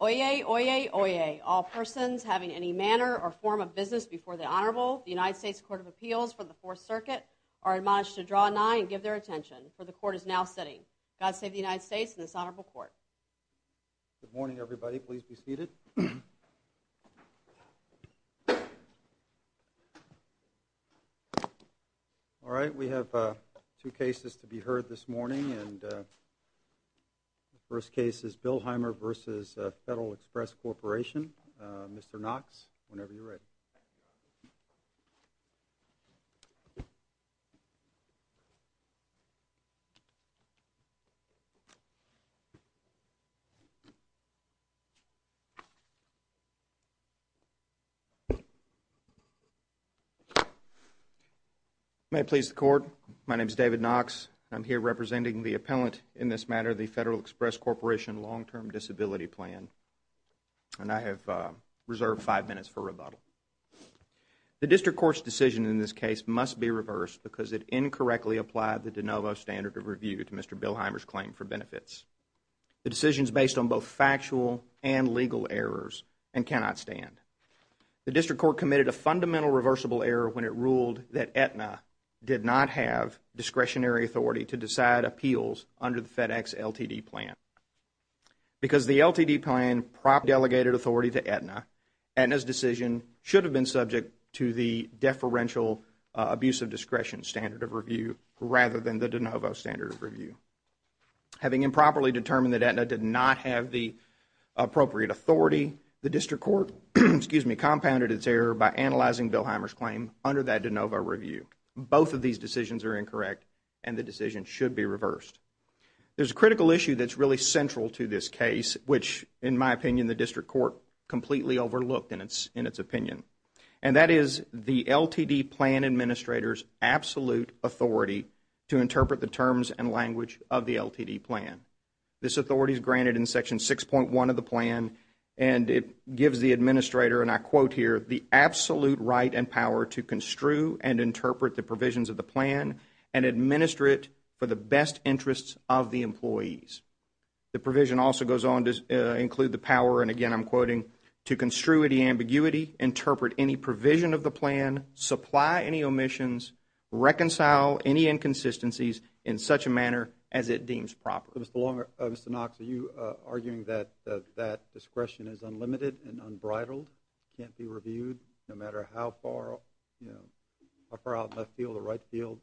Oyez, oyez, oyez. All persons having any manner or form of business before the Honorable United States Court of Appeals for the Fourth Circuit are admonished to draw nigh and give their attention, for the court is now sitting. God save the United States and this Honorable Court. Good morning everybody, please be seated. All right, we have two cases to be heard this morning and the first case is the Federal Express Corporation. Mr. Knox, whenever you are ready. May it please the Court, my name is David Knox. I am here representing the appellant in this matter, the Federal Express Corporation Long Term Disability Plan and I have reserved five minutes for rebuttal. The district court's decision in this case must be reversed because it incorrectly applied the de novo standard of review to Mr. Bilheimer's claim for benefits. The decision is based on both factual and legal errors and cannot stand. The district court committed a fundamental reversible error when it ruled that Aetna did not have discretionary authority to decide appeals under the FedEx LTD plan. Because the LTD plan propped delegated authority to Aetna, Aetna's decision should have been subject to the deferential abuse of discretion standard of review rather than the de novo standard of review. Having improperly determined that Aetna did not have the appropriate authority, the district court compounded its error by analyzing Bilheimer's claim under that de novo review. Both of these decisions are incorrect and the decision should be reversed. There is a critical issue that is really central to this case which, in my opinion, the district court completely overlooked in its opinion. And that is the LTD plan administrator's absolute authority to interpret the terms and language of the LTD plan. This authority is granted in section 6.1 of the plan and it gives the administrator, and I quote here, the absolute right and power to construe and amend the plan and administer it for the best interests of the employees. The provision also goes on to include the power, and again I'm quoting, to construe any ambiguity, interpret any provision of the plan, supply any omissions, reconcile any inconsistencies in such a manner as it deems proper. Mr. Long, Mr. Knox, are you arguing that that discretion is unlimited and unbridled, can't be reviewed, no matter how far out in the left field or right field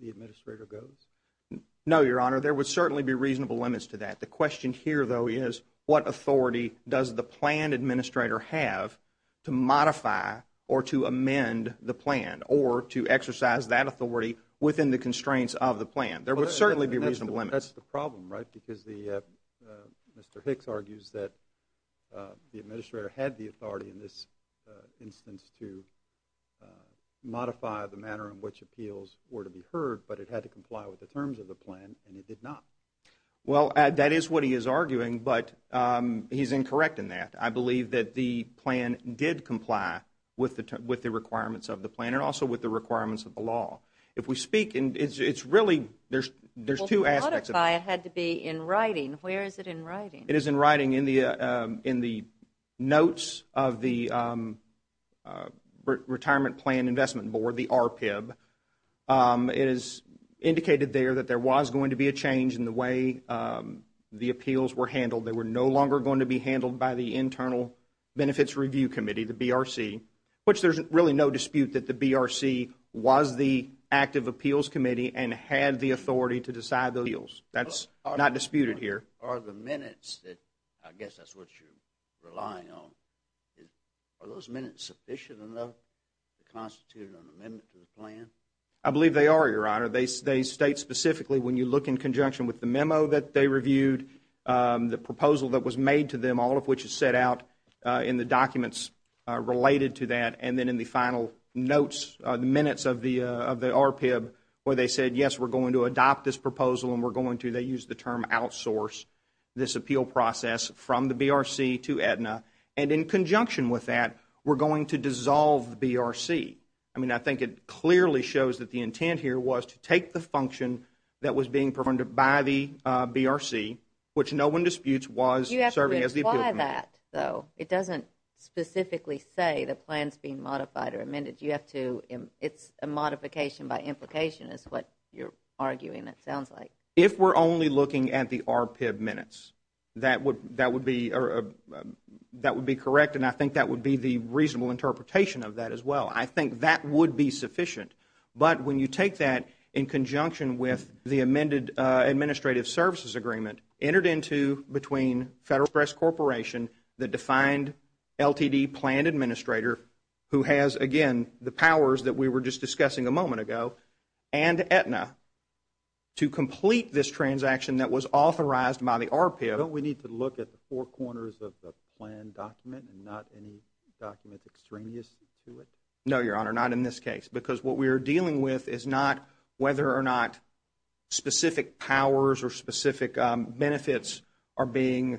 the administrator goes? No, Your Honor, there would certainly be reasonable limits to that. The question here though is what authority does the plan administrator have to modify or to amend the plan or to exercise that authority within the constraints of the plan? There would certainly be reasonable limits. That's the problem, right, because Mr. Hicks argues that the administrator had the authority in this instance to modify the manner in which appeals were to be heard, but it had to comply with the terms of the plan, and it did not. Well, that is what he is arguing, but he's incorrect in that. I believe that the plan did comply with the requirements of the plan and also with the requirements of the law. If we speak, it's really, there's two aspects of it. Well, to modify it had to be in writing. Where is it in writing? It is in writing in the notes of the Retirement Plan Investment Board, the RPIB. It is indicated there that there was going to be a change in the way the appeals were handled. They were no longer going to be handled by the Internal Benefits Review Committee, the BRC, which there's really no dispute that the BRC was the active appeals committee and had the authority to decide the appeals. That's not disputed here. But are the minutes that, I guess that's what you're relying on, are those minutes sufficient enough to constitute an amendment to the plan? I believe they are, Your Honor. They state specifically when you look in conjunction with the memo that they reviewed, the proposal that was made to them, all of which is set out in the documents related to that, and then in the final notes, the minutes of the RPIB, where they said, yes, we're going to adopt this proposal and we're going to, they used the term, outsource this appeal process from the BRC to Aetna, and in conjunction with that, we're going to dissolve the BRC. I mean, I think it clearly shows that the intent here was to take the function that was being performed by the BRC, which no one disputes was serving as the appeal committee. You have to imply that, though. It doesn't specifically say the plan's being modified or amended. You have to, it's a modification by implication is what you're arguing it sounds like. If we're only looking at the RPIB minutes, that would be correct, and I think that would be the reasonable interpretation of that as well. I think that would be sufficient. But when you take that in conjunction with the amended administrative services agreement entered into between Federal Express Corporation, the defined LTD plan administrator, who has, again, the powers that we were just discussing a moment ago, and Aetna, to complete this transaction that was authorized by the RPIB. Don't we need to look at the four corners of the plan document and not any documents extraneous to it? No, Your Honor, not in this case, because what we are dealing with is not whether or not specific powers or specific benefits are being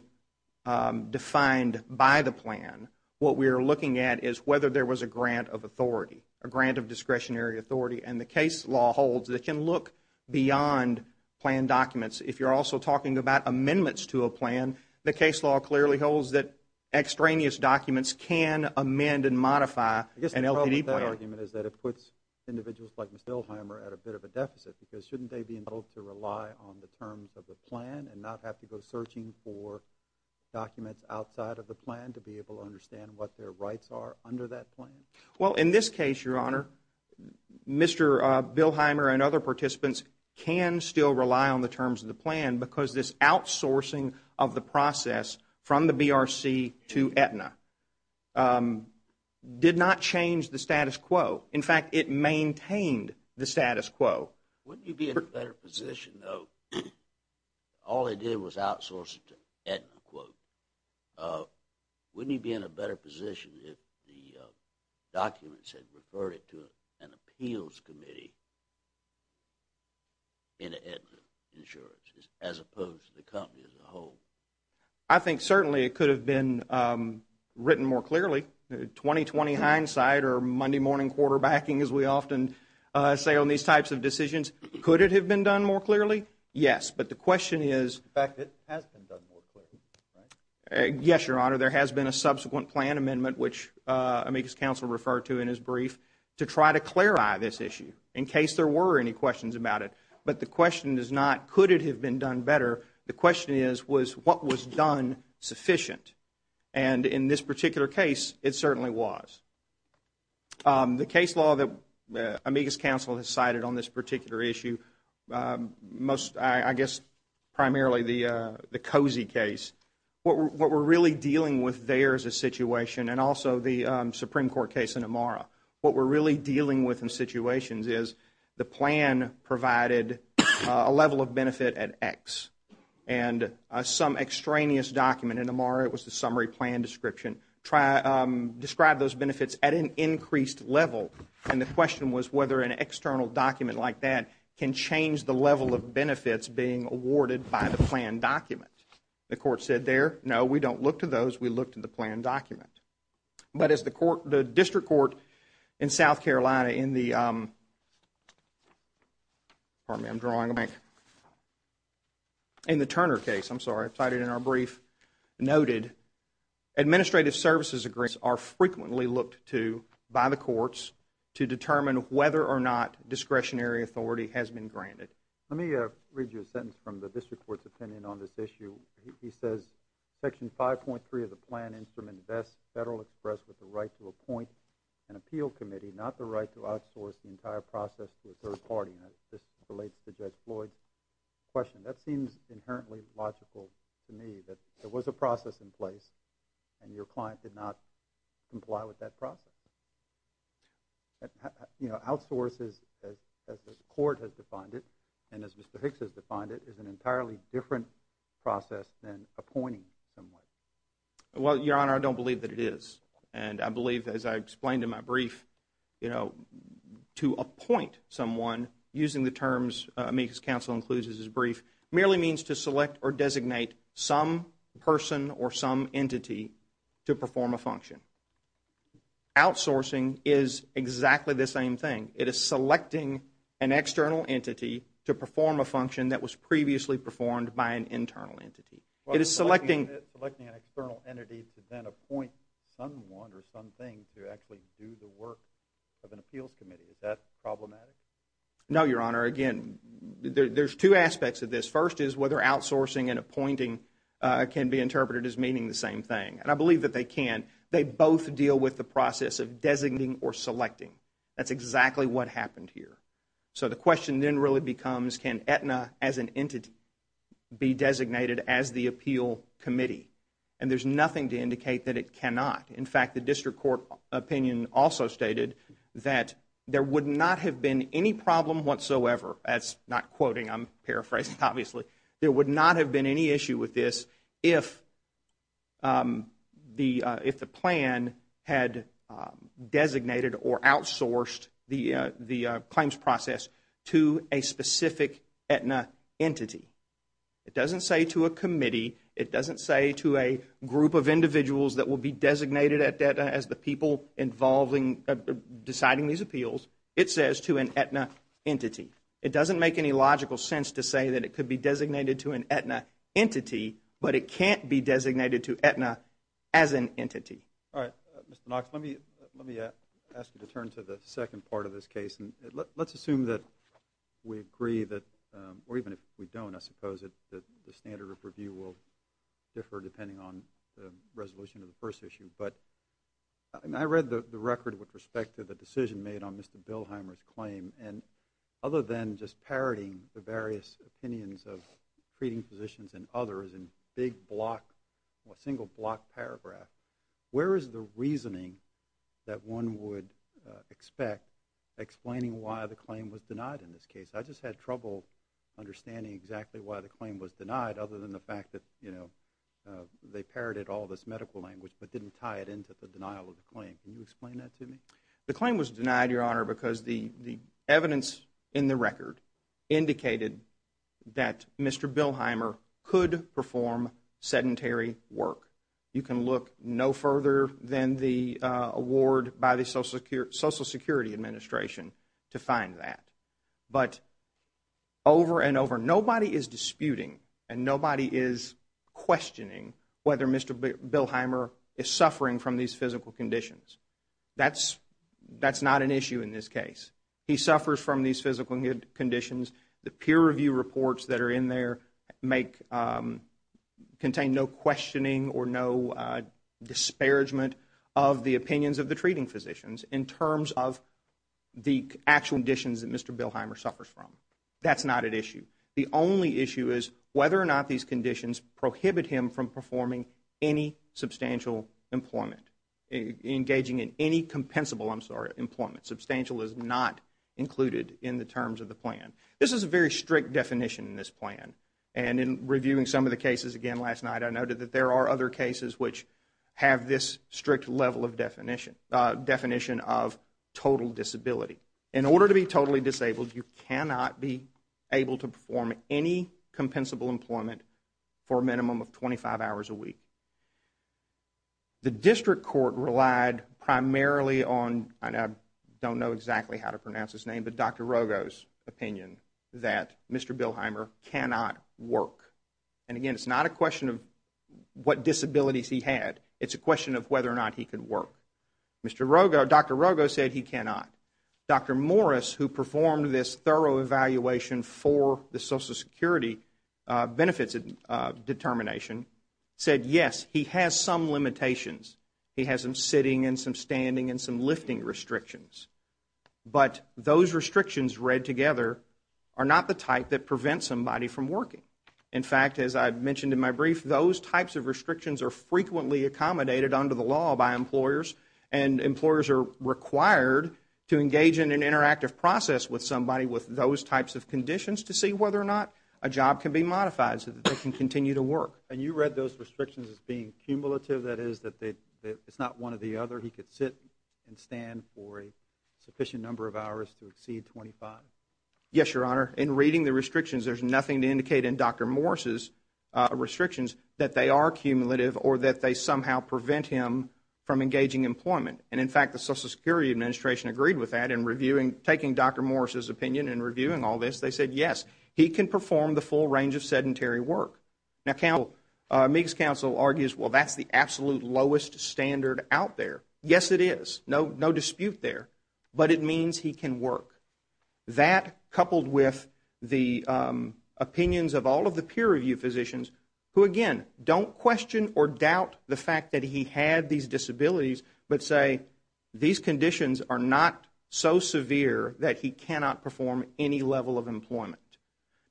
defined by the plan. What we are looking at is whether there was a grant of authority, a grant of discretionary authority, and the case law holds that can look beyond plan documents. If you're also talking about amendments to a plan, the case law clearly holds that extraneous documents can amend and modify an LTD plan. I guess the problem with that argument is that it puts individuals like Ms. Dillheimer at a bit of a deficit, because shouldn't they be able to rely on the terms of the plan and not have to go searching for documents outside of the plan to be able to understand what their rights are under that plan? Well, in this case, Your Honor, Mr. Dillheimer and other participants can still rely on the terms of the plan, because this outsourcing of the process from the BRC to Aetna did not change the status quo. In fact, it maintained the status quo. Wouldn't you be in a better position, though, if all they did was outsource it to Aetna? Wouldn't you be in a better position if the documents had referred it to an appeals committee in Aetna Insurance, as opposed to the company as a whole? I think certainly it could have been written more clearly. Twenty-twenty hindsight or Monday morning quarterbacking, as we often say on these types of decisions, could it have been done more clearly? Yes. But the question is – In fact, it has been done more clearly, right? Yes, Your Honor. There has been a subsequent plan amendment, which Amicus Council referred to in his brief, to try to clarify this issue in case there were any questions about it. But the question is not could it have been done better. The question is, was what was done sufficient? And in this particular case, it certainly was. The case law that Amicus Council has cited on this particular issue, I guess primarily the Cozy case, what we're really dealing with there is a situation, and also the Supreme Court case in Amara, what we're really dealing with in situations is the plan provided a level of benefit at X. And some extraneous document in Amara, it was the summary plan description, described those benefits at an can change the level of benefits being awarded by the plan document. The court said there, no, we don't look to those, we look to the plan document. But as the court, the district court in South Carolina in the – pardon me, I'm drawing a blank – in the Turner case, I'm sorry, I've cited it in our brief, noted administrative services agreements are frequently looked to by the courts to determine whether or not discretionary authority has been granted. Let me read you a sentence from the district court's opinion on this issue. He says, Section 5.3 of the plan instrument best Federal express with the right to appoint an appeal committee, not the right to outsource the entire process to a third party. And this relates to Judge Floyd's question. That seems inherently logical to me, that there was a process in place, and your client did not comply with that process. You know, outsources as the court has defined it, and as Mr. Hicks has defined it, is an entirely different process than appointing someone. Well, Your Honor, I don't believe that it is. And I believe, as I explained in my brief, you know, to appoint someone, using the terms – I mean, his counsel includes his brief – merely means to select or designate some person or some entity to perform a function. Outsourcing is exactly the same thing. It is selecting an external entity to perform a function that was previously performed by an internal entity. It is selecting – Selecting an external entity to then appoint someone or something to actually do the work of an appeals committee, is that problematic? No, Your Honor. Again, there's two aspects of this. First is whether outsourcing and appointing can be interpreted as meaning the same thing. And I believe that they can. They both deal with the process of designating or selecting. That's exactly what happened here. So the question then really becomes, can Aetna as an entity be designated as the appeal committee? And there's nothing to indicate that it cannot. In fact, the district court opinion also stated that there would not have been any problem whatsoever – that's not quoting, I'm paraphrasing, obviously – there would not have been any issue with this if the plan had designated or outsourced the claims process to a specific Aetna entity. It doesn't say to a committee, it doesn't say to a group of individuals that will be designated at deciding these appeals, it says to an Aetna entity. It doesn't make any logical sense to say that it could be designated to an Aetna entity, but it can't be designated to Aetna as an entity. All right. Mr. Knox, let me ask you to turn to the second part of this case. Let's assume that we agree that – or even if we don't, I suppose that the standard of review will differ depending on the resolution of the first issue – but I read the record with respect to the decision made on Mr. Bilheimer's claim, and other than just parodying the various opinions of treating physicians and others in big block, single block paragraph, where is the reasoning that one would expect explaining why the claim was denied in this case? I just had trouble understanding exactly why the claim was denied other than the fact that they parodied all this medical language but didn't tie it into the denial of the claim. Can you explain that to me? The claim was denied, Your Honor, because the evidence in the record indicated that Mr. Bilheimer could perform sedentary work. You can look no further than the award by the Social Security Administration to find that. But over and over, nobody is disputing and nobody is questioning whether Mr. Bilheimer is suffering from these physical conditions. That's not an issue in this case. He suffers from these physical conditions. The peer review reports that are in there contain no questioning or no disparagement of the opinions of the treating physicians in terms of the actual conditions that Mr. Bilheimer suffers from. That's not an issue. The only issue is whether or not these conditions prohibit him from performing any substantial employment, engaging in any compensable employment. Substantial is not included in the terms of the plan. This is a very strict definition in this plan. And in reviewing some of the cases again last night, I noted that there are other cases which have this strict level of definition, definition of total disability. In order to be totally disabled, you cannot be able to perform any compensable employment for a minimum of 25 hours a week. The district court relied primarily on, I don't know exactly how to pronounce his name, but Dr. Rogo's opinion that Mr. Bilheimer cannot work. And again, it's not a question of what disabilities he had. It's a question of whether or not he could work. Dr. Rogo said he cannot. Dr. Morris, who performed this thorough evaluation for the Social Security benefits determination, said yes, he has some limitations. He has some sitting and some standing and some lifting restrictions. But those restrictions read types of restrictions are frequently accommodated under the law by employers. And employers are required to engage in an interactive process with somebody with those types of conditions to see whether or not a job can be modified so that they can continue to work. And you read those restrictions as being cumulative, that is, that it's not one or the other. He could sit and stand for a sufficient number of hours to exceed 25. Yes, Your Honor. In reading the restrictions, there's nothing to indicate in Dr. Morris's review of the restrictions that they are cumulative or that they somehow prevent him from engaging employment. And in fact, the Social Security Administration agreed with that in reviewing, taking Dr. Morris's opinion in reviewing all this. They said yes, he can perform the full range of sedentary work. Now, Meeks Council argues, well, that's the absolute lowest standard out there. Yes, it is. No dispute there. But it means he can That, coupled with the opinions of all of the peer review physicians, who, again, don't question or doubt the fact that he had these disabilities, but say these conditions are not so severe that he cannot perform any level of employment.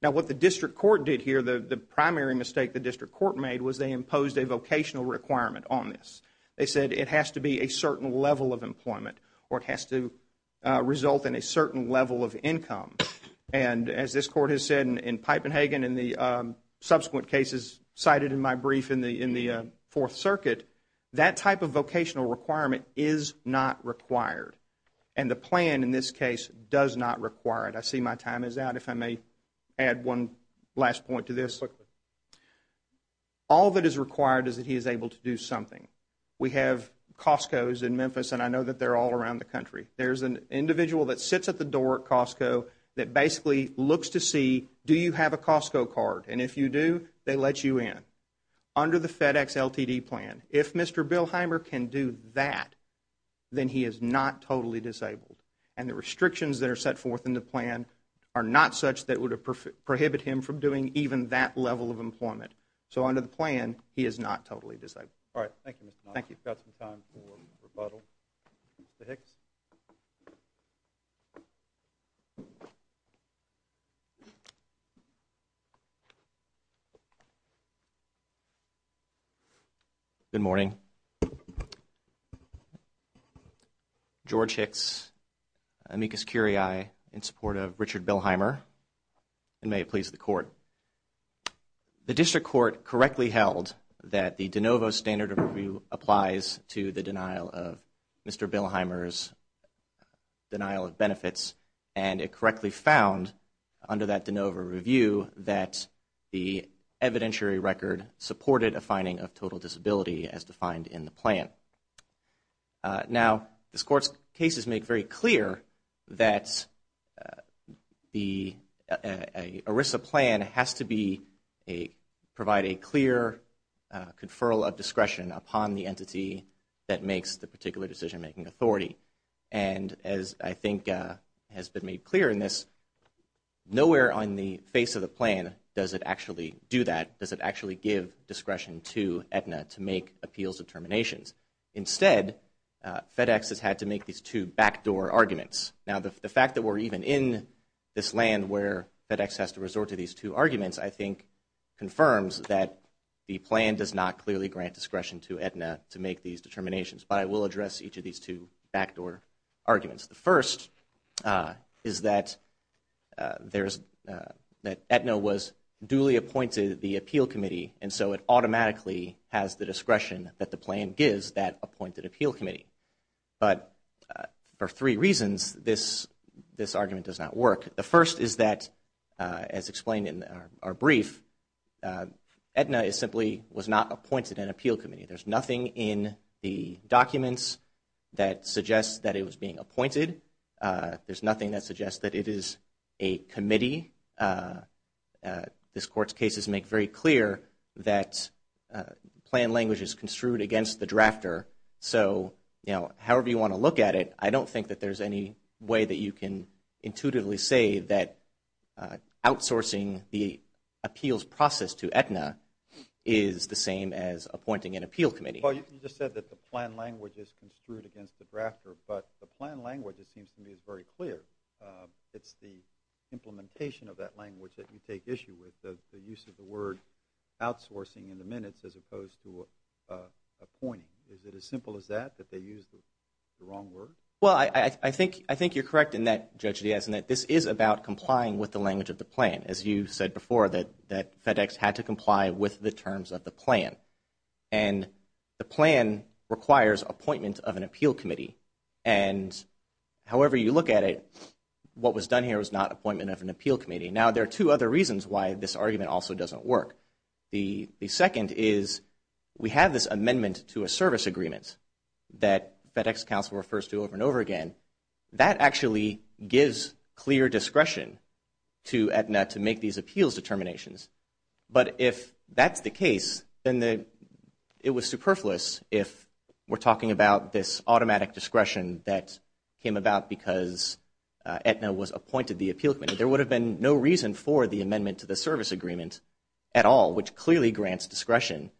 Now, what the District Court did here, the primary mistake the District Court made was they imposed a vocational requirement on this. They said it has to be a certain level of income. And as this Court has said in Pipe and Hagen and the subsequent cases cited in my brief in the Fourth Circuit, that type of vocational requirement is not required. And the plan in this case does not require it. I see my time is out. If I may add one last point to this. All that is required is that he is able to do something. We have Costco's in Memphis, and I know that they're all around the country. There's an individual that sits at the door at Costco that basically looks to see, do you have a Costco card? And if you do, they let you in. Under the FedEx LTD plan, if Mr. Bilheimer can do that, then he is not totally disabled. And the restrictions that are set forth in the plan are not such that would prohibit him from doing even that level of employment. So under the plan, he is not totally disabled. All right. Thank you, Mr. Knox. We've got some time for rebuttal. Mr. Hicks? Good morning. George Hicks, amicus curiae, in support of Richard Bilheimer. And may it be the court correctly held that the de novo standard of review applies to the denial of Mr. Bilheimer's denial of benefits. And it correctly found under that de novo review that the evidentiary record supported a finding of total disability as defined in the plan. Now, this court's cases make very clear that the ERISA plan has to provide a clear conferral of discretion upon the entity that makes the particular decision-making authority. And as I think has been made clear in this, nowhere on the face of the plan does it actually do grant discretion to Aetna to make appeals determinations. Instead, FedEx has had to make these two backdoor arguments. Now, the fact that we're even in this land where FedEx has to resort to these two arguments, I think, confirms that the plan does not clearly grant discretion to Aetna to make these determinations. But I will address each of these two backdoor automatically has the discretion that the plan gives that appointed appeal committee. But for three reasons, this argument does not work. The first is that, as explained in our brief, Aetna simply was not appointed an appeal committee. There's nothing in the documents that suggests that it was being appointed. There's nothing that suggests that it is a committee. This Court's cases make very clear that plan language is construed against the drafter. So, you know, however you want to look at it, I don't think that there's any way that you can intuitively say that outsourcing the appeals process to Aetna is the same as appointing an appeal committee. Well, you just said that the plan language is construed against the drafter. But the plan take issue with the use of the word outsourcing in the minutes as opposed to appointing. Is it as simple as that, that they use the wrong word? Well, I think you're correct in that, Judge Diaz, in that this is about complying with the language of the plan. As you said before, that FedEx had to comply with the terms of the plan. And the plan requires appointment of an appeal committee. And however you look at it, what was done here was not appointment of an appeal committee. Now, there are two other reasons why this argument also doesn't work. The second is we have this amendment to a service agreement that FedEx counsel refers to over and over again. That actually gives clear discretion to Aetna to make these appeals determinations. But if that's the case, then it was superfluous if we're talking about this automatic discretion that came about because Aetna was appointed the appeal committee. There would have been no reason for the amendment to the service agreement at all, which clearly grants discretion,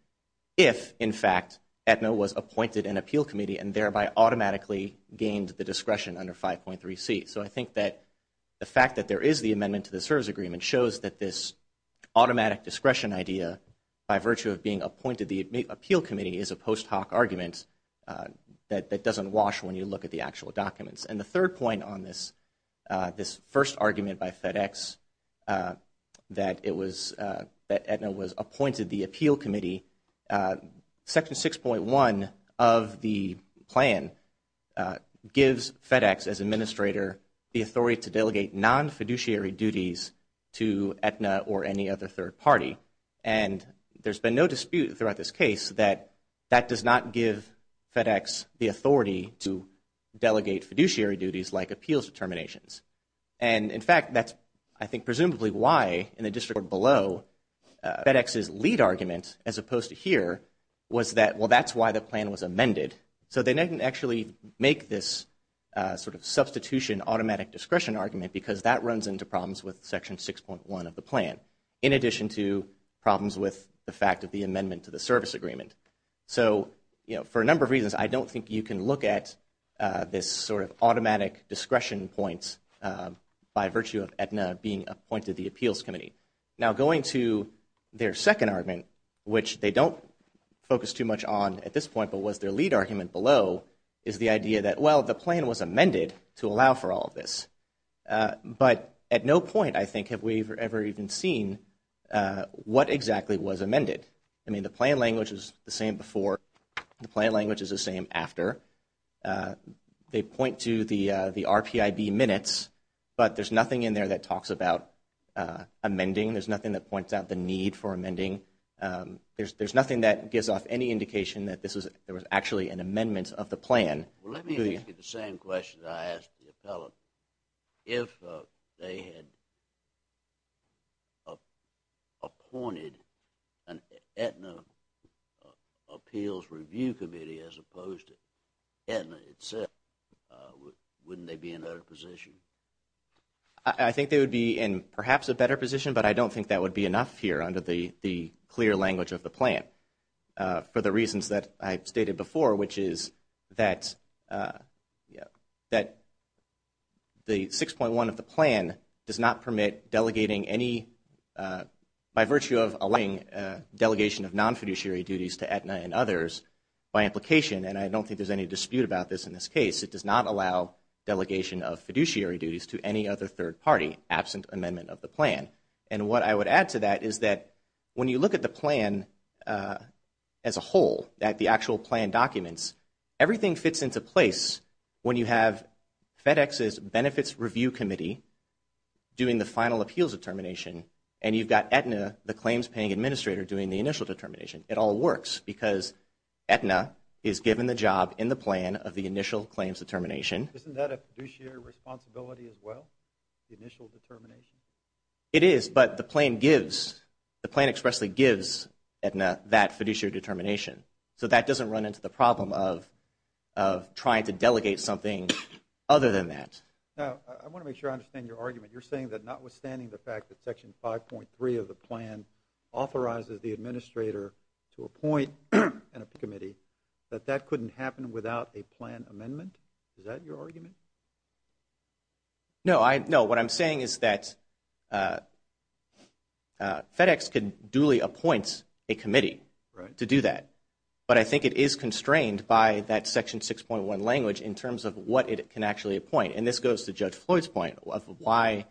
if, in fact, Aetna was appointed an appeal committee and thereby automatically gained the discretion under 5.3C. So I think that the fact that there is the amendment to the service agreement shows that this automatic discretion idea, by virtue of being appointed the appeal committee, is a post hoc argument that doesn't wash when you look at the actual documents. And the third point on this first argument by FedEx that Aetna was appointed the appeal committee, Section 6.1 of the plan gives FedEx as administrator the authority to delegate non-fiduciary duties to Aetna or any other third party. And there's been no dispute throughout this case that that does not give FedEx the authority to delegate fiduciary duties like appeals determinations. And, in fact, that's, I think, presumably why, in the district below, FedEx's lead argument, as opposed to here, was that, well, that's why the plan was amended. So they didn't actually make this sort of substitution automatic discretion argument because that runs into problems with Section 6.1 of the plan, in addition to problems with the fact of the amendment to the service agreement. So, you know, for a number of reasons, I don't think you can look at this sort of automatic discretion point by virtue of Aetna being appointed the appeals committee. Now going to their second argument, which they don't focus too much on at this point, but was their lead argument below, is the idea that, well, the plan was amended to allow for all of this. But at no point, I think, have we ever even seen what exactly was amended. I mean, the plan language is the same before. The plan language is the same after. They point to the RPIB minutes, but there's nothing in there that talks about amending. There's nothing that points out the need for amending. There's nothing that gives off any indication that there was actually an amendment of the plan. Well, let me ask you the same question that I asked the appellant. If they had appointed an Aetna appeals review committee as opposed to Aetna itself, wouldn't they be in a better position? I think they would be in perhaps a better position, but I don't think that would be enough here under the clear language of the plan, for the reasons that I stated before, which is that the 6.1 of the plan does not permit delegating any, by virtue of allowing delegation of non-fiduciary duties to Aetna and others by implication, and I don't think there's any dispute about this in this case, it does not allow delegation of fiduciary duties to any other third party absent amendment of the plan. And what I would add to that is that when you look at the plan as a whole, at the actual plan documents, everything fits into place when you have FedEx's benefits review committee doing the final appeals determination, and you've got Aetna, the claims paying administrator, doing the initial determination. It all works because Aetna is given the job in the plan of the initial claims determination. Isn't that a fiduciary responsibility as well, the initial determination? It is, but the plan gives, the plan expressly gives Aetna that fiduciary determination, so that doesn't run into the problem of trying to delegate something other than that. Now, I want to make sure I understand your argument. You're saying that notwithstanding the fact that Section 5.3 of the plan authorizes the administrator to appoint an AP committee, that that couldn't happen without a plan amendment? Is that your argument? No, what I'm saying is that FedEx can duly appoint a committee to do that, but I think it is constrained by that Section 6.1 language in terms of what it can actually appoint, and this goes to Judge Floyd's point of why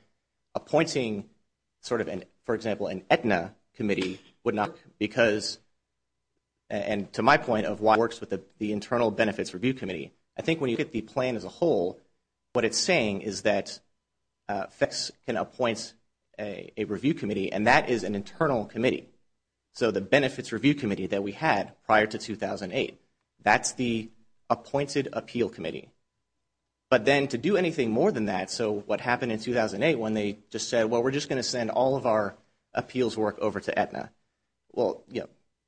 appointing sort of, for example, an Aetna committee would not work, because, and to my point of why it works with the internal benefits review committee, I think when you get the plan as a whole, what it's saying is that FedEx can appoint a review committee, and that is an internal committee. So the benefits review committee that we had prior to 2008, that's the appointed appeal committee. But then to do anything more than that, so what happened in 2008 when they just said, well, we're just going to send all of our appeals work over to Aetna. Well,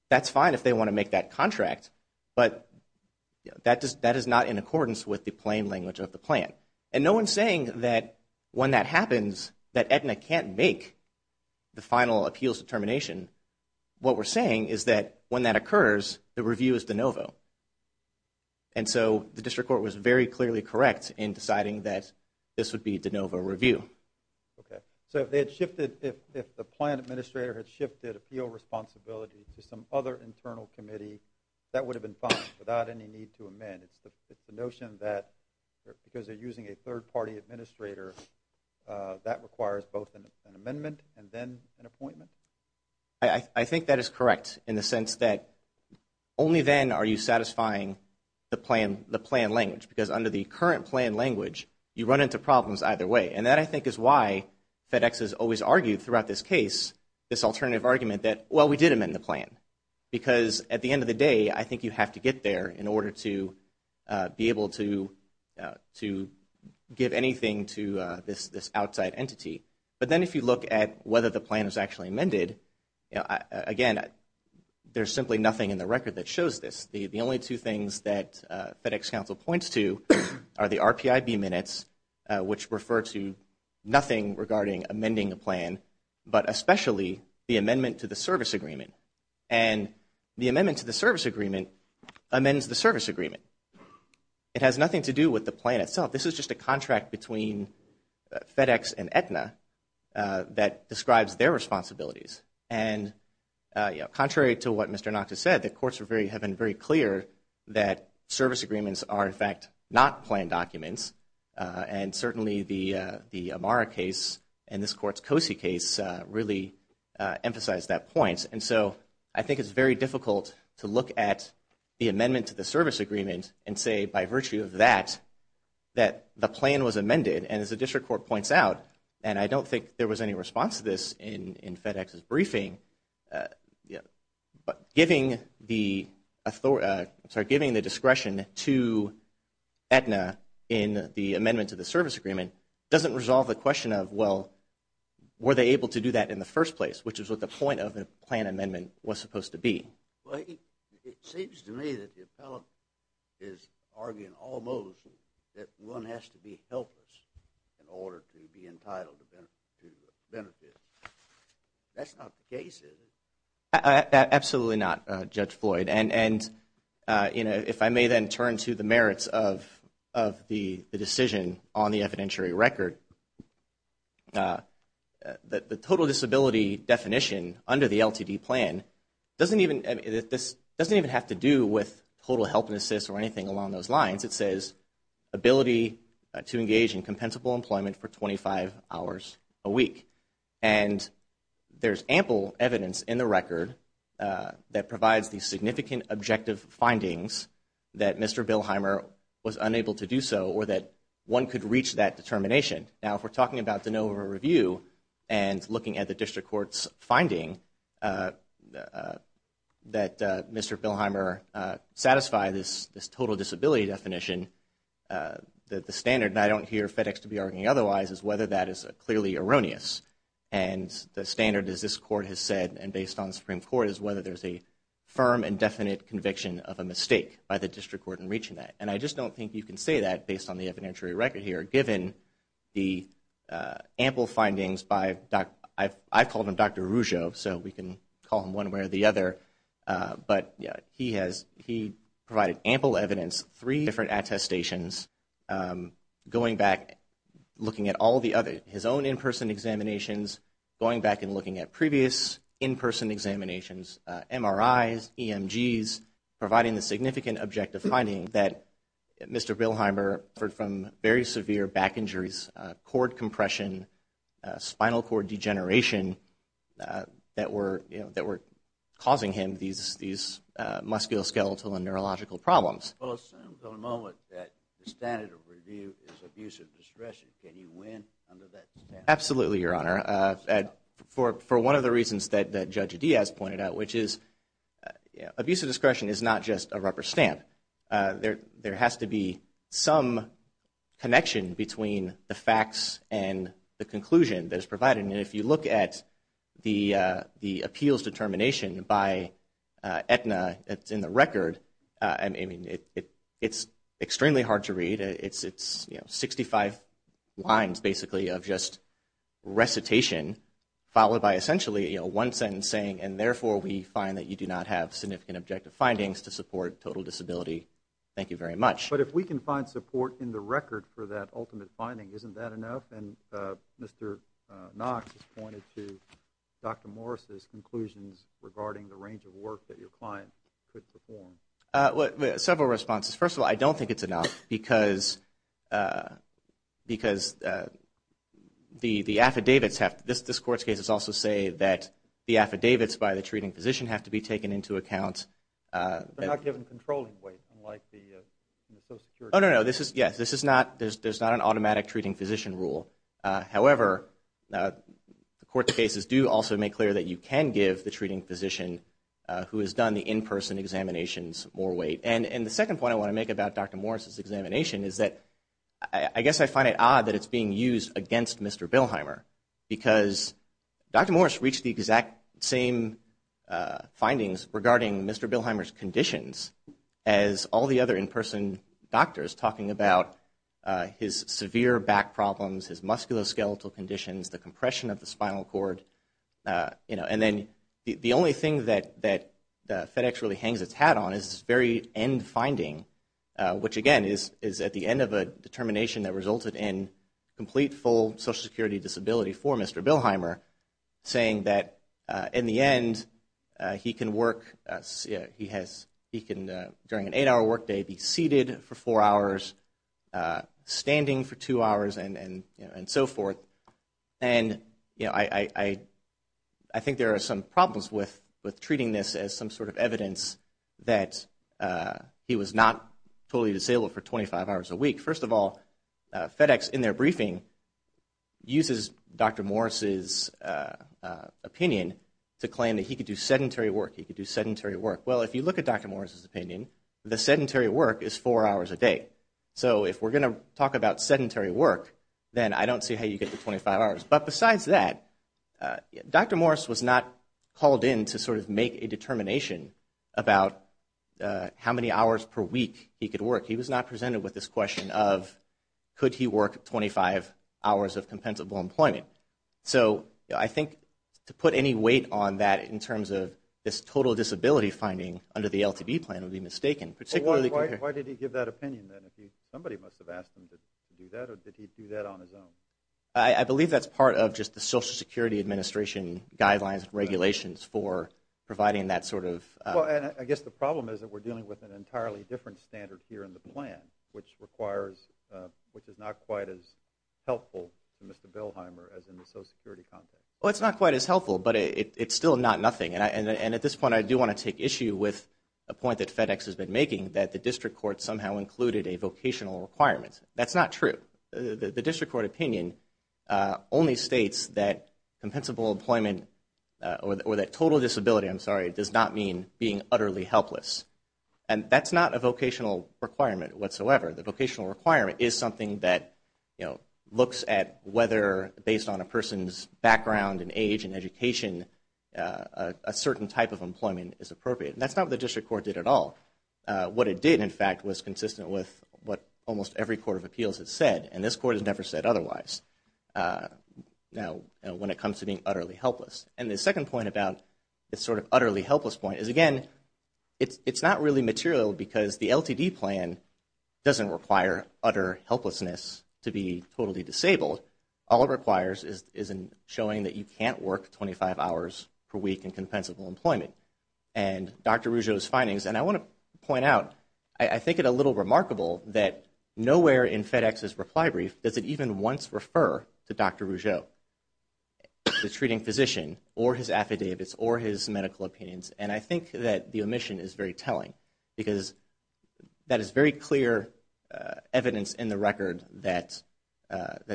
that's fine if they want to make that contract, but that is not in accordance with the plain language of the plan. And no one's saying that when that happens, that Aetna can't make the final appeals determination. What we're saying is that when that occurs, the review is de novo. And so the District Court was very clearly correct in deciding that this would be de novo review. Okay, so if they had shifted, if the plan administrator had shifted appeal responsibility to some other internal committee, that would have been fine without any need to amend. It's the notion that because they're using a third-party administrator, that requires both an amendment and then an appointment? I think that is correct in the sense that only then are you satisfying the plan language, because under the current plan language, you run into problems either way. And that, I think, is why FedEx has always argued throughout this case this alternative argument that, well, we did amend the plan. Because at the end of the day, I think you have to get there in order to be able to give anything to this outside entity. But then if you look at whether the plan was actually amended, again, there's simply nothing in the record that shows this. The only two things that FedEx counsel points to are the RPIB minutes, which refer to nothing regarding amending a plan, but especially the amendment to the service agreement. And the amendment to the service agreement amends the service agreement. It has nothing to do with the plan itself. This is just a contract between FedEx and Aetna that describes their responsibilities. And contrary to what Mr. Knox has said, the courts have been very clear that service agreements are, in fact, not plan documents. And certainly the Amara case and this court's COSI case really emphasize that point. And so I think it's very difficult to look at the amendment to the service agreement and say, by virtue of that, that the plan was amended. And as the district court points out, and I don't think there was any response to this in FedEx's briefing, but giving the discretion to Aetna in the amendment to the service agreement doesn't resolve the question of, well, were they able to do that in the first place, which is what the point of the plan amendment was supposed to be. It seems to me that the appellate is arguing almost that one has to be helpless in order to be entitled to benefit. That's not the case, is it? Absolutely not, Judge Floyd. And, you know, if I may then turn to the merits of the decision on the evidentiary record, the total disability definition under the LTD plan doesn't even have to do with total help and assist or anything along those lines. It says ability to engage in compensable employment for 25 hours a week. And there's ample evidence in the record that provides the significant objective findings that Mr. Billheimer was unable to do so or that one could reach that determination. Now, if we're talking about the NOVA review and looking at the district court's finding that Mr. Billheimer satisfied this total disability definition, the standard, and I don't hear FedEx to be arguing otherwise, is whether that is clearly erroneous. And the standard, as this court has said and based on the Supreme Court, is whether there's a firm and definite conviction of a mistake by the district court in reaching that. And I just don't think you can say that based on the evidentiary record here, given the ample findings by Dr. I've called him Dr. Rougeau, so we can call him one way or the other. But he provided ample evidence, three different attestations, going back, looking at all the other, his own in-person examinations, going back and looking at previous in-person examinations, MRIs, EMGs, providing the significant objective finding that Mr. Billheimer suffered from very severe back injuries, cord compression, spinal cord degeneration that were causing him these musculoskeletal and neurological problems. Well, it seems at the moment that the standard of review is abusive discretion. Can you win under that standard? Absolutely, Your Honor. For one of the reasons that Judge Diaz pointed out, which is abusive discretion is not just a rubber stamp. There has to be some connection between the facts and the conclusion that is provided. And if you look at the appeals determination by Aetna that's in the record, I mean, it's extremely hard to read. It's 65 lines, basically, of just recitation, followed by essentially one sentence saying, and therefore we find that you do not have significant objective findings to support total disability. Thank you very much. But if we can find support in the record for that ultimate finding, isn't that enough? And Mr. Knox has pointed to Dr. Morris' conclusions regarding the range of work that your client could perform. Well, several responses. First of all, I don't think it's enough because the affidavits have to – this Court's cases also say that the affidavits by the treating physician have to be taken into account. They're not given controlling weight, unlike the Social Security. Oh, no, no. Yes, this is not – there's not an automatic treating physician rule. However, the Court's cases do also make clear that you can give the treating physician who has done the in-person examinations more weight. And the second point I want to make about Dr. Morris' examination is that I guess I find it odd that it's being used against Mr. Billheimer because Dr. Morris reached the exact same findings regarding Mr. Billheimer's conditions as all the other in-person doctors talking about his severe back problems, his musculoskeletal conditions, the compression of the spinal cord. And then the only thing that FedEx really hangs its hat on is this very end finding, which, again, is at the end of a determination that resulted in complete, full Social Security disability for Mr. Billheimer, saying that in the end, he can work – he has – he can, during an eight-hour work day, be seated for four hours, standing for two hours, and so forth. And, you know, I think there are some problems with treating this as some sort of evidence that he was not totally disabled for 25 hours a week. First of all, FedEx, in their briefing, uses Dr. Morris' opinion to claim that he could do sedentary work. He could do sedentary work. Well, if you look at Dr. Morris' opinion, the sedentary work is four hours a day. So if we're going to talk about sedentary work, then I don't see how you get to 25 hours. But besides that, Dr. Morris was not called in to sort of make a determination about how many hours per week he could work. He was not presented with this question of could he work 25 hours of compensable employment. So I think to put any weight on that in terms of this total disability finding under the LTB plan would be mistaken, particularly – Somebody must have asked him to do that, or did he do that on his own? I believe that's part of just the Social Security Administration guidelines and regulations for providing that sort of – Well, and I guess the problem is that we're dealing with an entirely different standard here in the plan, which is not quite as helpful to Mr. Bilheimer as in the Social Security context. Well, it's not quite as helpful, but it's still not nothing. And at this point, I do want to take issue with a point that FedEx has been making, that the district court somehow included a vocational requirement. That's not true. The district court opinion only states that compensable employment – or that total disability, I'm sorry, does not mean being utterly helpless. And that's not a vocational requirement whatsoever. The vocational requirement is something that, you know, looks at whether, based on a person's background and age and education, a certain type of employment is appropriate. And that's not what the district court did at all. What it did, in fact, was consistent with what almost every court of appeals has said, and this court has never said otherwise when it comes to being utterly helpless. And the second point about this sort of utterly helpless point is, again, it's not really material because the LTD plan doesn't require utter helplessness to be totally disabled. All it requires is showing that you can't work 25 hours per week in compensable employment. And Dr. Rougeau's findings, and I want to point out, I think it a little remarkable that nowhere in FedEx's reply brief does it even once refer to Dr. Rougeau, the treating physician, or his affidavits, or his medical opinions. And I think that the omission is very telling because that is very clear evidence in the record that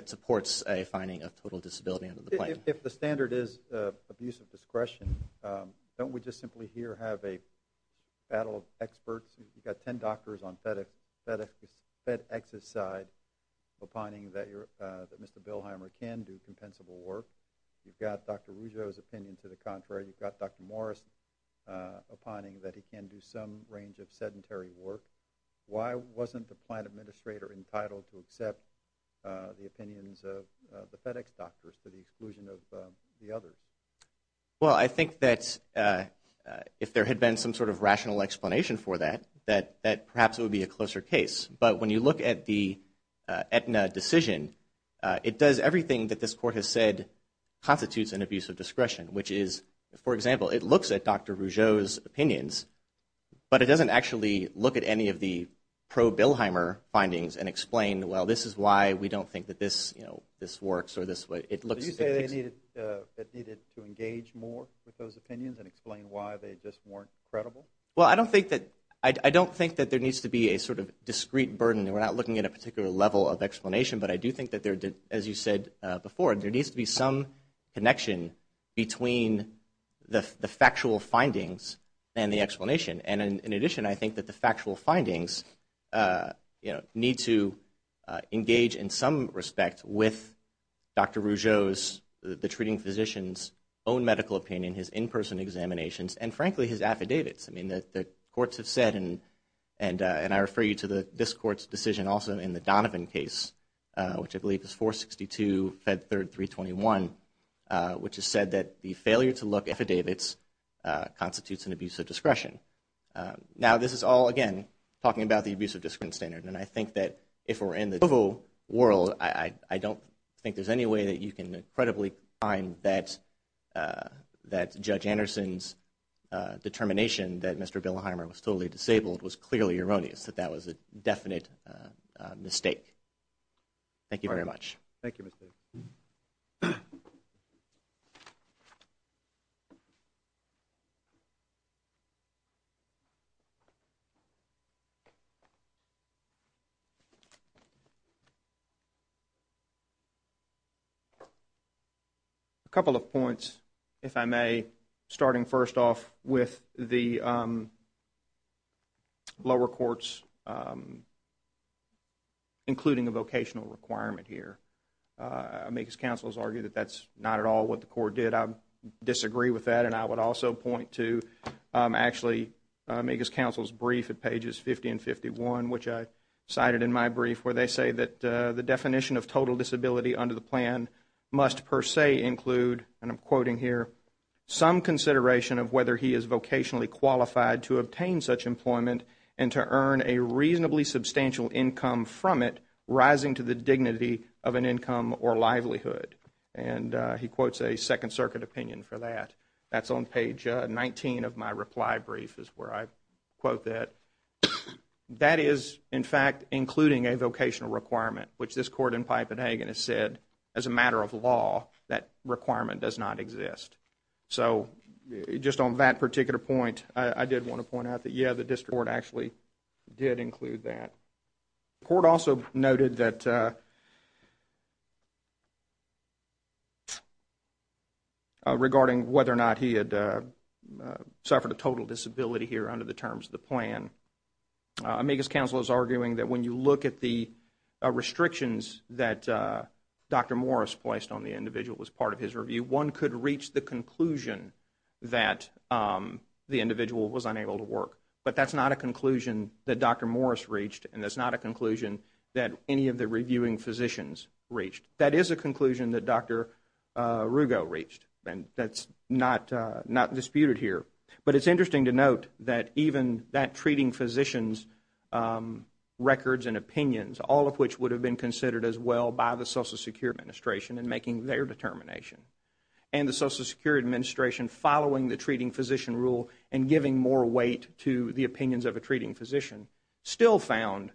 supports a finding of total disability under the plan. If the standard is abuse of discretion, don't we just simply here have a battle of experts? You've got 10 doctors on FedEx's side opining that Mr. Bilheimer can do compensable work. You've got Dr. Rougeau's opinion to the contrary. You've got Dr. Morris opining that he can do some range of sedentary work. Why wasn't the plan administrator entitled to accept the opinions of the FedEx doctors to the exclusion of the others? Well, I think that if there had been some sort of rational explanation for that, that perhaps it would be a closer case. But when you look at the Aetna decision, it does everything that this court has said constitutes an abuse of discretion, which is, for example, it looks at Dr. Rougeau's opinions, but it doesn't actually look at any of the pro-Bilheimer findings and explain, well, this is why we don't think that this works or this way. Did you say they needed to engage more with those opinions and explain why they just weren't credible? Well, I don't think that there needs to be a sort of discrete burden. We're not looking at a particular level of explanation, but I do think that, as you said before, there needs to be some connection between the factual findings and the explanation. And in addition, I think that the factual findings need to engage in some respect with Dr. Rougeau's, the treating physician's own medical opinion, his in-person examinations, and frankly, his affidavits. I mean, the courts have said, and I refer you to this court's decision also in the Donovan case, which I believe is 462 Fed 3321, which has said that the failure to look at affidavits constitutes an abuse of discretion. Now, this is all, again, talking about the abuse of discretion standard, and I think that if we're in the general world, I don't think there's any way that you can credibly find that Judge Anderson's determination that Mr. that that was a definite mistake. Thank you very much. Thank you, Mr. A couple of points, if I may, starting first off with the lower courts, including a vocational requirement here. I mean, his counsel has argued that that's not at all what the court did. I disagree with that, and I would also point to actually make his counsel's brief at pages 50 and 51, which I cited in my brief where they say that the definition of total disability under the plan must per se include, and I'm quoting here, some consideration of whether he is vocationally qualified to obtain such employment and to earn a reasonably substantial income from it, rising to the dignity of an income or livelihood. And he quotes a Second Circuit opinion for that. That's on page 19 of my reply brief is where I quote that. That is, in fact, including a vocational requirement, which this court in Pipe and Hagen has said, as a matter of law, that requirement does not exist. So just on that particular point, I did want to point out that, yeah, the district court actually did include that. The court also noted that regarding whether or not he had suffered a total disability here under the terms of the plan, I mean, his counsel is arguing that when you look at the restrictions that Dr. Morris placed on the individual as part of his review, one could reach the conclusion that the individual was unable to work. But that's not a conclusion that Dr. Morris reached, and that's not a conclusion that any of the reviewing physicians reached. That is a conclusion that Dr. Rugo reached, and that's not disputed here. But it's interesting to note that even that treating physician's records and opinions, all of which would have been considered as well by the Social Security Administration in making their determination, and the Social Security Administration following the treating physician rule and giving more weight to the opinions of a treating physician, still found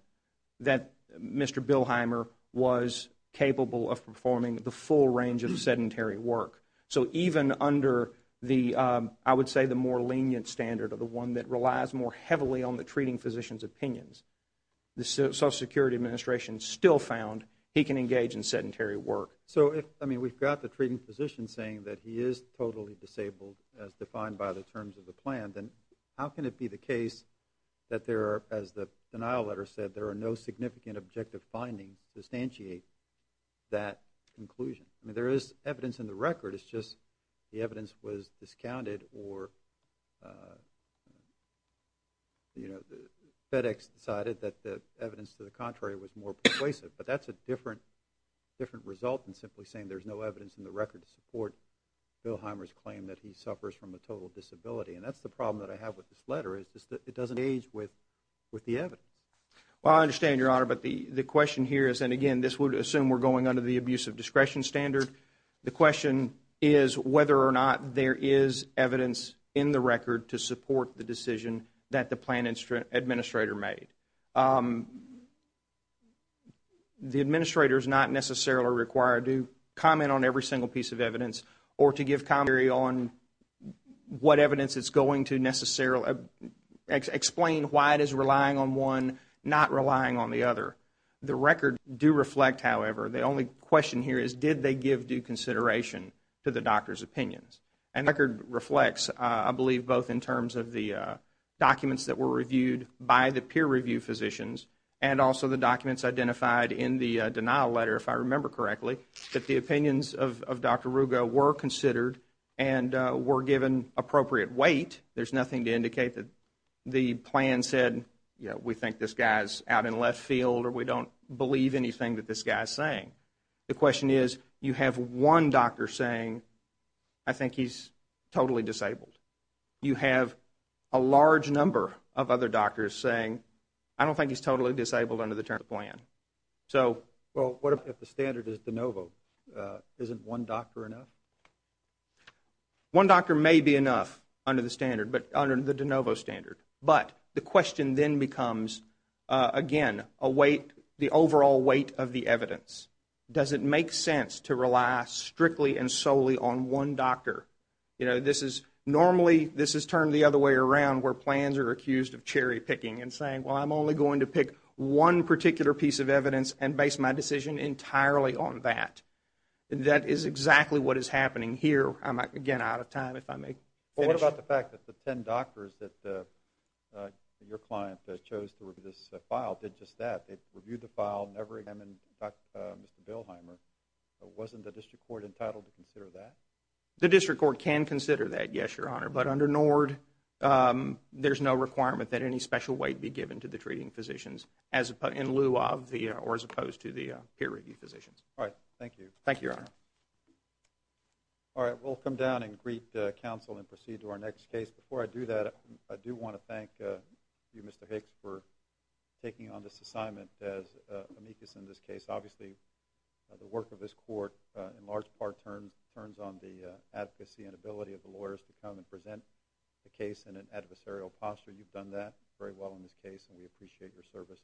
that Mr. Bilheimer was capable of performing the full range of sedentary work. So even under the, I would say, the more lenient standard or the one that relies more heavily on the treating physician's opinions, the Social Security Administration still found he can engage in sedentary work. So if, I mean, we've got the treating physician saying that he is totally disabled as defined by the terms of the plan, then how can it be the case that there are, as the denial letter said, there are no significant objective findings to substantiate that conclusion? I mean, there is evidence in the record. It's just the evidence was discounted or, you know, FedEx decided that the evidence to the contrary was more persuasive. But that's a different result than simply saying there's no evidence in the record to support Bilheimer's claim that he suffers from a total disability. And that's the problem that I have with this letter is just that it doesn't engage with the evidence. Well, I understand, Your Honor, but the question here is, and again, this would assume we're going under the abuse of discretion standard. The question is whether or not there is evidence in the record to support the decision that the plan administrator made. The administrator is not necessarily required to comment on every single piece of evidence or to give commentary on what evidence is going to necessarily explain why it is relying on one, not relying on the other. The record do reflect, however. The only question here is, did they give due consideration to the doctor's opinions? And the record reflects, I believe, both in terms of the documents that were reviewed by the peer review physicians and also the documents identified in the denial letter, if I remember correctly, that the opinions of Dr. Rugo were considered and were given appropriate weight. There's nothing to indicate that the plan said, you know, we think this guy's out in left field or we don't believe anything that this guy's saying. The question is, you have one doctor saying, I think he's totally disabled. You have a large number of other doctors saying, I don't think he's totally disabled under the terms of the plan. So what if the standard is de novo? Isn't one doctor enough? One doctor may be enough under the standard, but under the de novo standard. But the question then becomes, again, a weight, the overall weight of the evidence. Does it make sense to rely strictly and solely on one doctor? You know, this is normally, this is turned the other way around where plans are accused of cherry picking and saying, well, I'm only going to pick one particular piece of evidence and base my decision entirely on that. That is exactly what is happening here. I'm, again, out of time if I may finish. Well, what about the fact that the 10 doctors that your client chose to review this file did just that? They reviewed the file, never examined Mr. Bilheimer. Wasn't the district court entitled to consider that? The district court can consider that, yes, Your Honor. But under NORD, there's no requirement that any special weight be given to the treating physicians in lieu of or as opposed to the peer review physicians. All right, thank you. Thank you, Your Honor. All right, we'll come down and greet counsel and proceed to our next case. Before I do that, I do want to thank you, Mr. Hicks, for taking on this assignment as amicus in this case. Obviously, the work of this court in large part turns on the advocacy and ability of the lawyers to come and present the case in an adversarial posture. You've done that very well in this case, and we appreciate your service on behalf of the court.